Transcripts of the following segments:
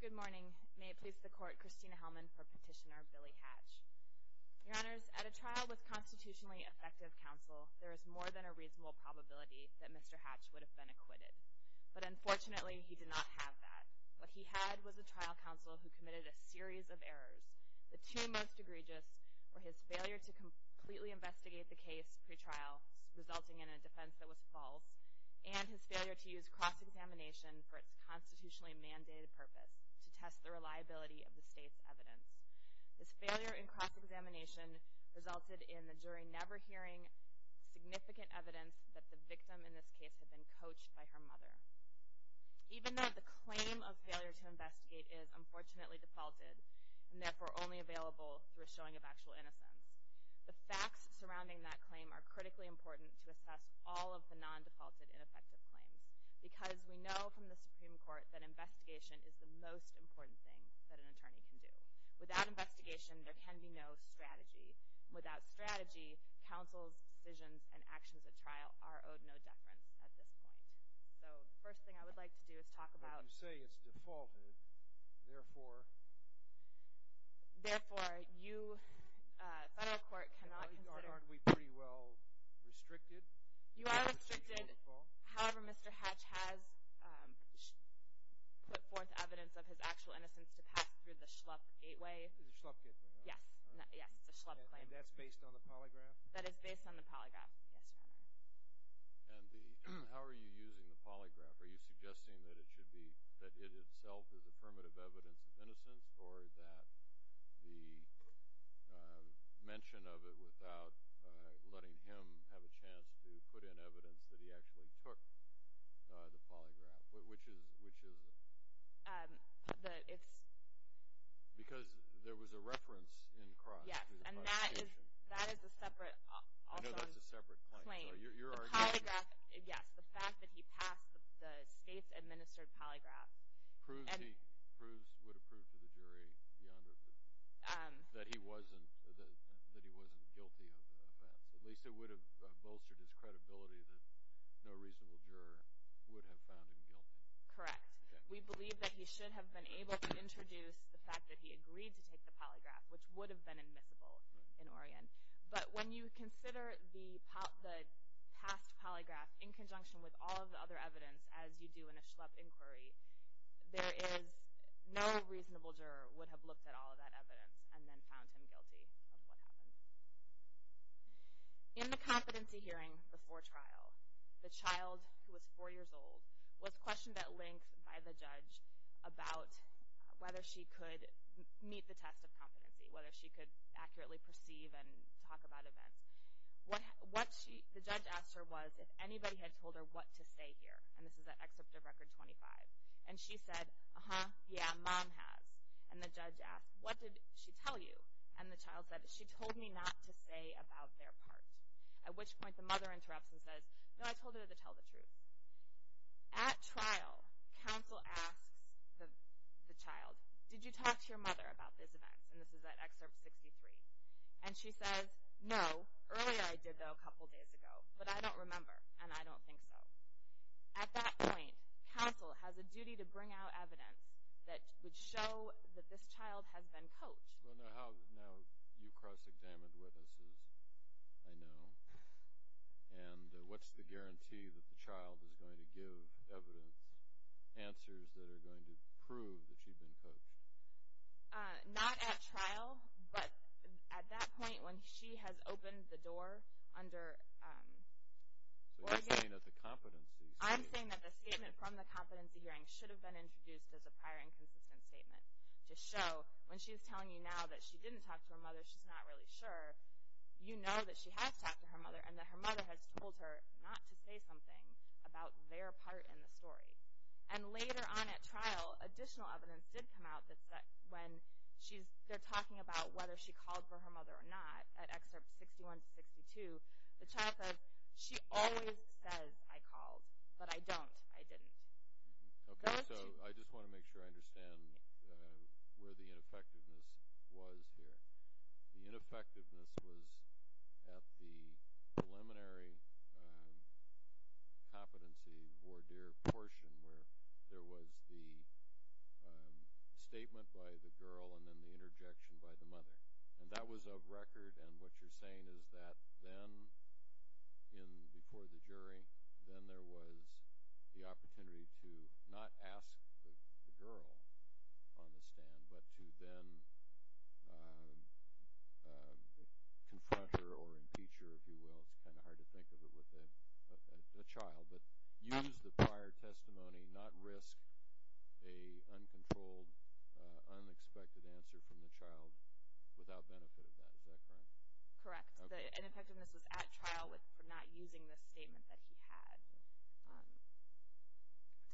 Good morning. May it please the Court, Christina Hellman for Petitioner Billy Hatch. Your Honors, at a trial with constitutionally effective counsel, there is more than a reasonable probability that Mr. Hatch would have been acquitted. But unfortunately, he did not have that. What he had was a trial counsel who committed a series of errors. The two most egregious were his failure to completely investigate the case pre-trial, resulting in a defense that was false, and his failure to use cross-examination for its constitutionally mandated purpose, to test the reliability of the State's evidence. This failure in cross-examination resulted in the jury never hearing significant evidence that the victim in this case had been coached by her mother. Even though the claim of failure to investigate is unfortunately defaulted, and therefore only available through a showing of actual innocence, the facts surrounding that claim are critically important to assess all of the non-defaulted, ineffective claims, because we know from the Supreme Court that investigation is the most important thing that an attorney can do. Without investigation, there can be no strategy. Without strategy, counsel's decisions and actions at trial are owed no deference at this point. So, the first thing I would like to do is talk about... Well, you say it's defaulted. Therefore... Therefore, you, Federal Court, cannot consider... Aren't we pretty well restricted? You are restricted. However, Mr. Hatch has put forth evidence of his actual innocence to pass through the Schlupp Gateway. The Schlupp Gateway, right? Yes. Yes, it's a Schlupp claim. And that's based on the polygraph? That is based on the polygraph. Yes, Your Honor. And the... how are you using the polygraph? Are you suggesting that it should be... that it itself is affirmative evidence of innocence, or that the mention of it without letting him have a chance to put in evidence that he actually took the polygraph? Which is... which is... The... it's... Because there was a reference in Cross to the prosecution. Yes, and that is... that is a separate, also... No, that's a separate claim. Your argument... The polygraph... yes, the fact that he passed the state's administered polygraph... Proves he... proves... would have proved to the jury, beyond... that he wasn't... that he wasn't guilty of the offense. At least it would have bolstered his credibility that no reasonable juror would have found him guilty. Correct. We believe that he should have been able to introduce the fact that he agreed to take the polygraph, which would have been admissible in Oregon. But when you consider the past polygraph in conjunction with all of the other evidence, as you do in a Schlepp inquiry, there is... no reasonable juror would have looked at all of that evidence and then found him guilty of what happened. In the competency hearing before trial, the child, who was four years old, was questioned at length by the judge about whether she could meet the test of competency, whether she could accurately perceive and talk about events. What she... the judge asked her was if anybody had told her what to say here. And this is at Excerpt of Record 25. And she said, uh-huh, yeah, Mom has. And the judge asked, what did she tell you? And the child said, she told me not to say about their part. At which point the mother interrupts and says, no, I told her to tell the truth. At trial, counsel asks the child, did you talk to your mother about this event? And this is at Excerpt 63. And she says, no, earlier I did, though, a couple days ago. But I don't remember, and I don't think so. At that point, counsel has a duty to bring out evidence that would show that this child has been coached. Well, now you cross-examined witnesses, I know. And what's the guarantee that the child is going to give evidence, answers that are going to prove that she'd been coached? Not at trial, but at that point when she has opened the door under, um, So you're saying that the competency hearing. I'm saying that the statement from the competency hearing should have been introduced as a prior inconsistent statement to show when she's telling you now that she didn't talk to her mother, she's not really sure, you know that she has talked to her mother and that her mother has told her not to say something about their part in the story. And later on at trial, additional evidence did come out that when she's, they're talking about whether she called for her mother or not at Excerpt 61 to 62, the child says, she always says I called, but I don't, I didn't. Okay, so I just want to make sure I understand where the ineffectiveness was here. The ineffectiveness was at the preliminary competency voir dire portion where there was the statement by the girl and then the interjection by the mother. And that was of record, and what you're saying is that then in, before the jury, then there was the opportunity to not ask the girl on the stand, but to then confront her or impeach her, if you will. It's kind of hard to think of it with a child, but use the prior testimony, not risk a uncontrolled, unexpected answer from the child without benefit of that. Is that correct? Correct. The ineffectiveness was at trial for not using the statement that he had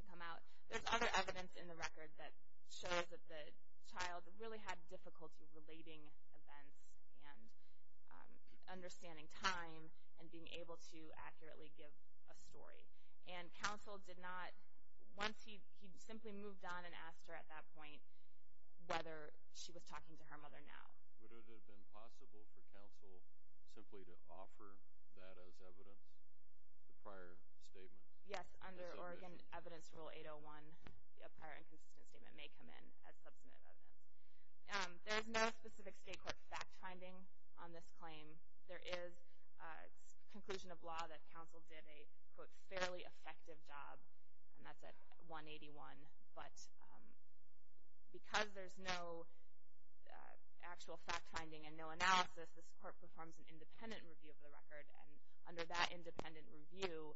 to come out. There's other evidence in the record that shows that the child really had difficulty relating events and understanding time and being able to accurately give a story. And counsel did not, once he, he simply moved on and asked her at that point whether she was talking to her mother now. Would it have been possible for counsel simply to offer that as evidence, the prior statement? Yes, under Oregon Evidence Rule 801, a prior inconsistent statement may come in as substantive evidence. There's no specific state court fact-finding on this claim. There is a conclusion of law that counsel did a, quote, fairly effective job, and that's at 181. But because there's no actual fact-finding and no analysis, this court performs an independent review of the record, and under that independent review,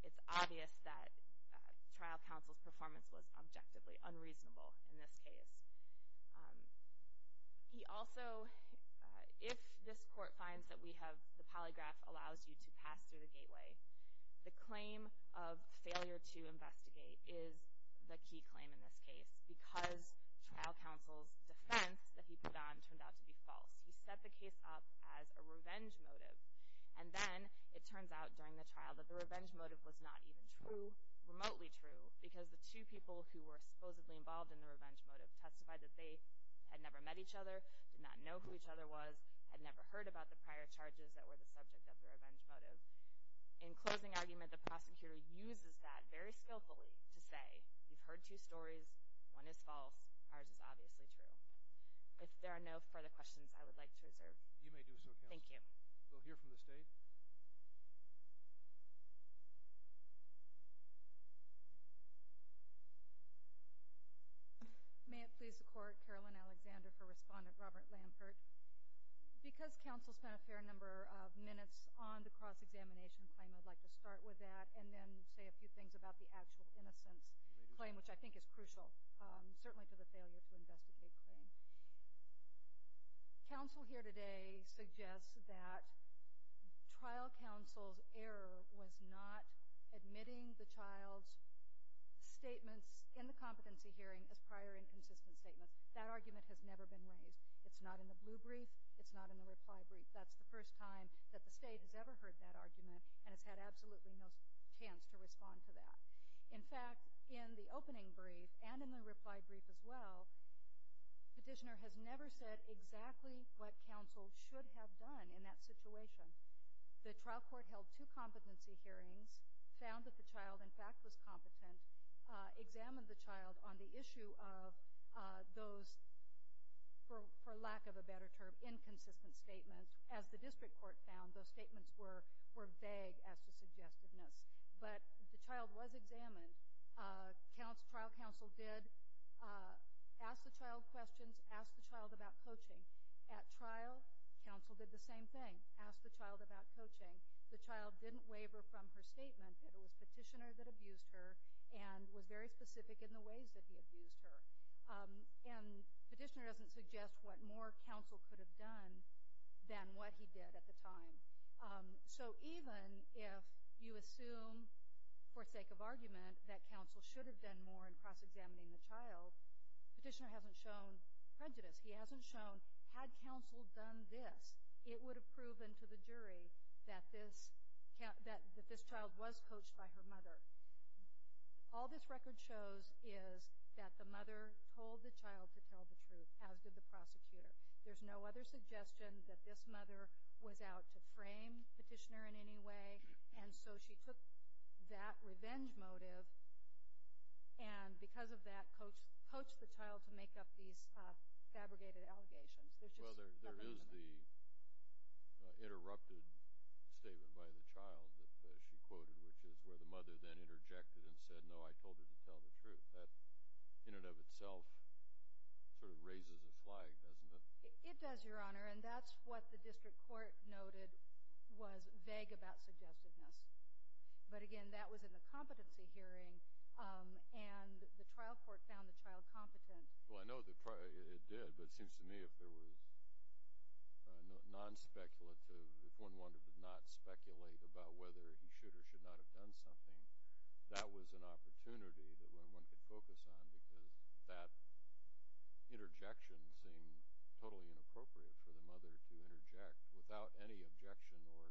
it's obvious that trial counsel's performance was objectively unreasonable in this case. He also, if this court finds that we have, the polygraph allows you to pass through the gateway, the claim of failure to investigate is the key claim in this case because trial counsel's defense that he put on turned out to be false. He set the case up as a revenge motive, and then it turns out during the trial that the revenge motive was not even true, remotely true, because the two people who were supposedly involved in the revenge motive testified that they had never met each other, did not know who each other was, had never heard about the prior charges that were the subject of the revenge motive. In closing argument, the prosecutor uses that very skillfully to say, you've heard two stories, one is false, ours is obviously true. If there are no further questions, I would like to reserve. You may do so, counsel. Thank you. We'll hear from the State. May it please the Court, Carolyn Alexander for Respondent Robert Lampert. Because counsel spent a fair number of minutes on the cross-examination claim, I'd like to start with that and then say a few things about the actual innocence claim, which I think is crucial, certainly to the failure to investigate claim. Counsel here today suggests that trial counsel's error was not admitting the child's statements in the competency hearing as prior inconsistent statements. That argument has never been raised. It's not in the blue brief. It's not in the reply brief. That's the first time that the State has ever heard that argument and has had absolutely no chance to respond to that. In fact, in the opening brief and in the reply brief as well, the petitioner has never said exactly what counsel should have done in that situation. The trial court held two competency hearings, found that the child, in fact, was competent, examined the child on the issue of those, for lack of a better term, inconsistent statements. As the district court found, those statements were vague as to suggestiveness. But the child was examined. Trial counsel did ask the child questions, asked the child about coaching. At trial, counsel did the same thing, asked the child about coaching. The child didn't waver from her statement that it was petitioner that abused her and was very specific in the ways that he abused her. And petitioner doesn't suggest what more counsel could have done than what he did at the time. So even if you assume, for sake of argument, that counsel should have done more in cross-examining the child, petitioner hasn't shown prejudice. He hasn't shown, had counsel done this, it would have proven to the jury that this child was coached by her mother. All this record shows is that the mother told the child to tell the truth, as did the prosecutor. There's no other suggestion that this mother was out to frame petitioner in any way. And so she took that revenge motive and, because of that, coached the child to make up these fabricated allegations. There's just nothing else. Well, there is the interrupted statement by the child that she quoted, which is where the mother then interjected and said, no, I told her to tell the truth. That, in and of itself, sort of raises a flag, doesn't it? It does, Your Honor, and that's what the district court noted was vague about suggestiveness. But again, that was in the competency hearing, and the trial court found the child competent. Well, I know it did, but it seems to me if there was non-speculative, if one wanted to not speculate about whether he should or should not have done something, that was an opportunity that one could focus on because that interjection seemed totally inappropriate for the mother to interject without any objection or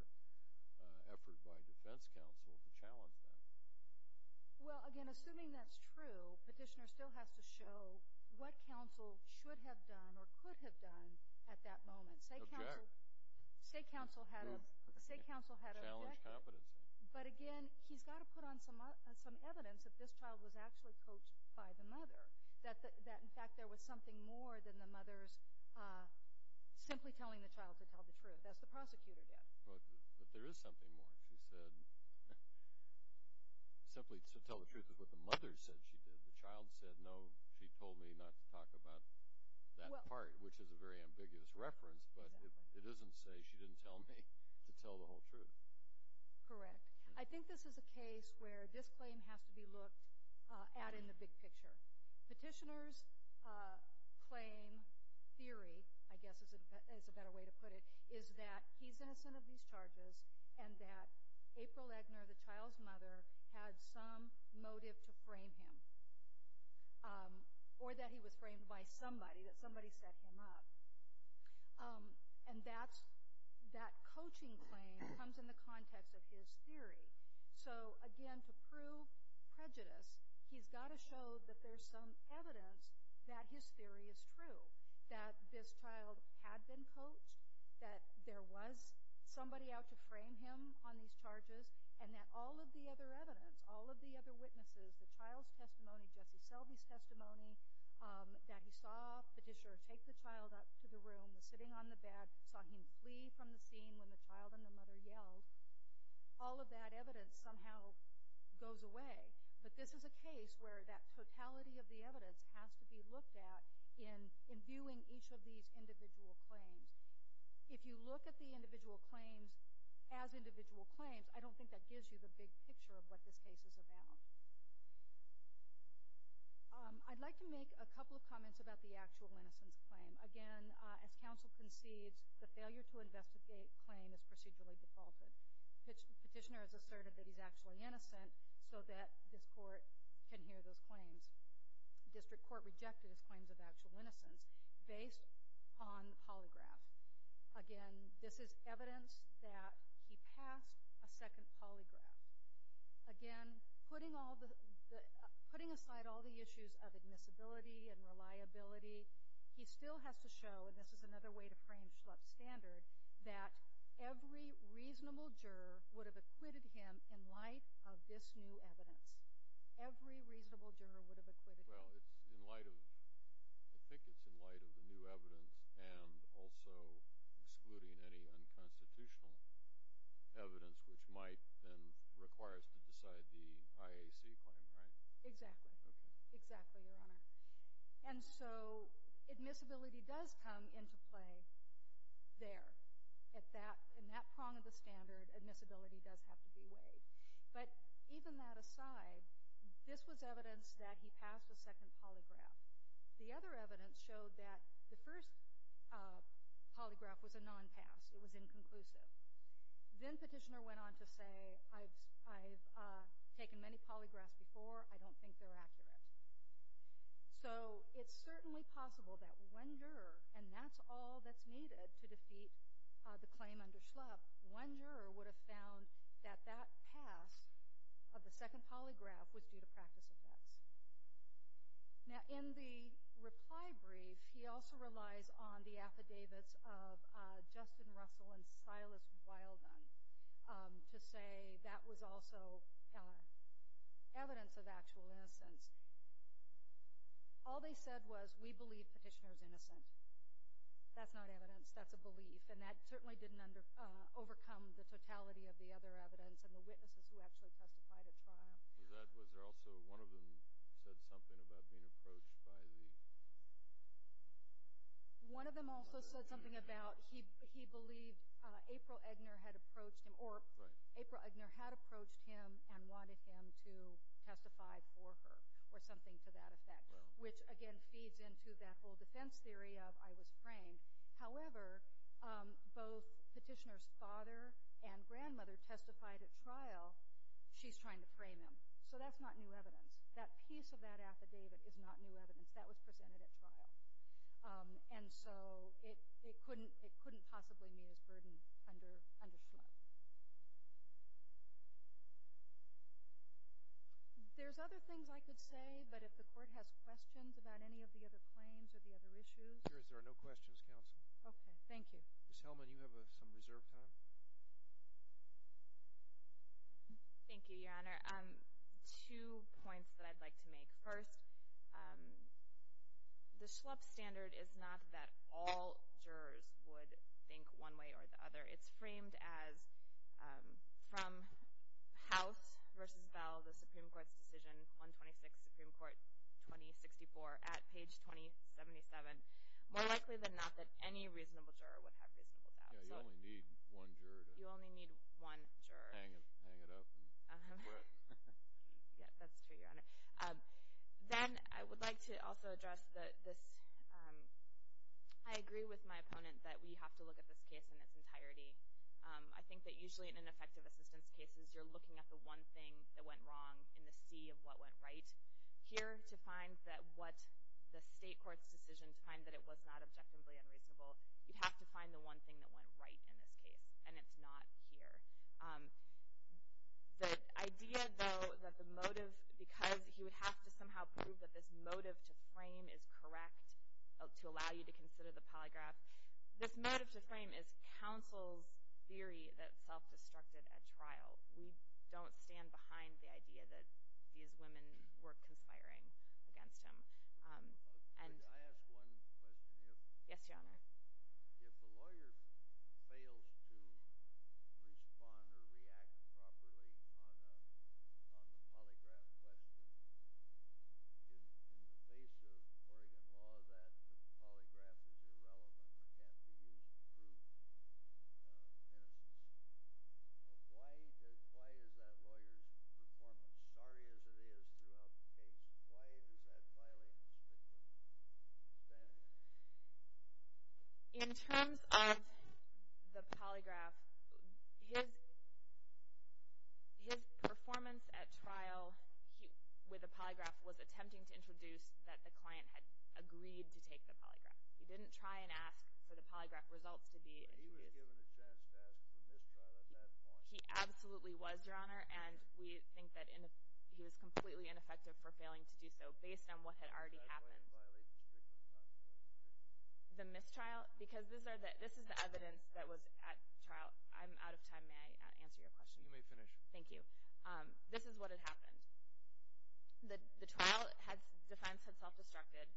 effort by defense counsel to challenge that. Well, again, assuming that's true, petitioner still has to show what counsel should have done or could have done at that moment. Object. Say counsel had a – say counsel had a – Challenge competency. But again, he's got to put on some evidence that this child was actually coached by the mother, that in fact there was something more than the mother's simply telling the child to tell the truth. That's what the prosecutor did. But there is something more. She said simply to tell the truth is what the mother said she did. The child said, no, she told me not to talk about that part, which is a very ambiguous reference, but it doesn't say she didn't tell me to tell the whole truth. Correct. I think this is a case where this claim has to be looked at in the big picture. Petitioner's claim theory, I guess is a better way to put it, is that he's innocent of these charges and that April Eggner, the child's mother, had some motive to frame him or that he was framed by somebody, that somebody set him up. And that coaching claim comes in the context of his theory. So again, to prove prejudice, he's got to show that there's some evidence that his theory is true, that this child had been coached, that there was somebody out to frame him on these charges, and that all of the other evidence, all of the other witnesses, the child's testimony, Jesse Selby's testimony, that he saw Petitioner take the child up to the room, was sitting on the bed, saw him flee from the scene when the child and the mother yelled, all of that evidence somehow goes away. But this is a case where that totality of the evidence has to be looked at in viewing each of these individual claims. If you look at the individual claims as individual claims, I don't think that gives you the big picture of what this case is about. I'd like to make a couple of comments about the actual innocence claim. Again, as counsel concedes, the failure to investigate claim is procedurally defaulted. Petitioner has asserted that he's actually innocent so that this court can hear those claims. District court rejected his claims of actual innocence based on the polygraph. Again, this is evidence that he passed a second polygraph. Again, putting aside all the issues of admissibility and reliability, he still has to show, and this is another way to frame Schlupp's standard, that every reasonable juror would have acquitted him in light of this new evidence. Well, I think it's in light of the new evidence and also excluding any unconstitutional evidence which might then require us to decide the IAC claim, right? Exactly. Exactly, Your Honor. And so admissibility does come into play there. In that prong of the standard, admissibility does have to be weighed. But even that aside, this was evidence that he passed a second polygraph. The other evidence showed that the first polygraph was a non-pass. It was inconclusive. Then petitioner went on to say, I've taken many polygraphs before. I don't think they're accurate. So it's certainly possible that one juror, and that's all that's needed to defeat the claim under Schlupp, one juror would have found that that pass of the second polygraph was due to practice effects. Now, in the reply brief, he also relies on the affidavits of Justin Russell and Silas Wildon to say that was also evidence of actual innocence. All they said was, we believe petitioner's innocent. That's not evidence. That's a belief. And that certainly didn't overcome the totality of the other evidence and the witnesses who actually testified at trial. Was there also one of them said something about being approached by the— One of them also said something about he believed April Egner had approached him, or April Egner had approached him and wanted him to testify for her or something to that effect, which, again, feeds into that whole defense theory of I was framed. However, both petitioner's father and grandmother testified at trial. She's trying to frame him. So that's not new evidence. That piece of that affidavit is not new evidence. That was presented at trial. And so it couldn't possibly meet its burden under Schlupp. There's other things I could say, but if the Court has questions about any of the other claims or the other issues— If there are no questions, Counsel. Okay. Thank you. Ms. Hellman, you have some reserved time. Thank you, Your Honor. Two points that I'd like to make. First, the Schlupp standard is not that all jurors would think one way or the other. It's framed as, from House v. Bell, the Supreme Court's decision, 126, Supreme Court, 2064, at page 2077. More likely than not that any reasonable juror would have reasonable doubt. Yeah, you only need one juror. You only need one juror. Hang it up and quit. Yeah, that's true, Your Honor. Then I would like to also address this— I agree with my opponent that we have to look at this case in its entirety. I think that usually in ineffective assistance cases, you're looking at the one thing that went wrong in the sea of what went right. Here, to find that what the State Court's decision to find that it was not objectively unreasonable, you'd have to find the one thing that went right in this case, and it's not here. The idea, though, that the motive— to allow you to consider the polygraph— this motive to frame is counsel's theory that self-destructed at trial. We don't stand behind the idea that these women were conspiring against him. Could I ask one question? Yes, Your Honor. If a lawyer fails to respond or react properly on the polygraph question, in the face of Oregon law that the polygraph is irrelevant or can't be used to prove innocence, why is that lawyer's performance, sorry as it is throughout the case, why is that filing strictly standard? In terms of the polygraph, his performance at trial with the polygraph was attempting to introduce that the client had agreed to take the polygraph. He didn't try and ask for the polygraph results to be introduced. He was given a chance to ask for a mistrial at that point. He absolutely was, Your Honor, and we think that he was completely ineffective for failing to do so based on what had already happened. Why did that client violate the strictly standard? The mistrial? Because this is the evidence that was at trial. I'm out of time. May I answer your question? You may finish. Thank you. This is what had happened. The trial defense had self-destructed.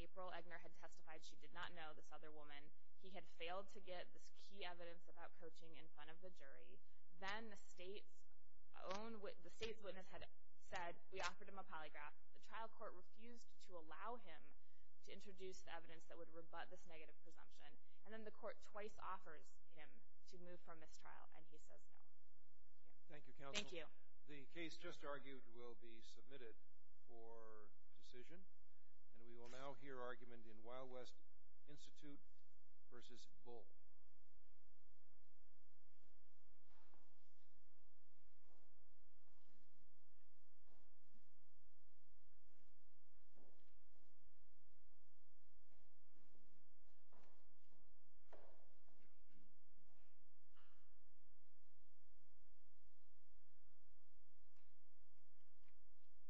April Eggner had testified she did not know this other woman. He had failed to get this key evidence about coaching in front of the jury. Then the state's witness had said, we offered him a polygraph. The trial court refused to allow him to introduce the evidence that would rebut this negative presumption. And then the court twice offers him to move for a mistrial, and he says no. Thank you, counsel. Thank you. The case just argued will be submitted for decision, and we will now hear argument in Wild West Institute v. Bull.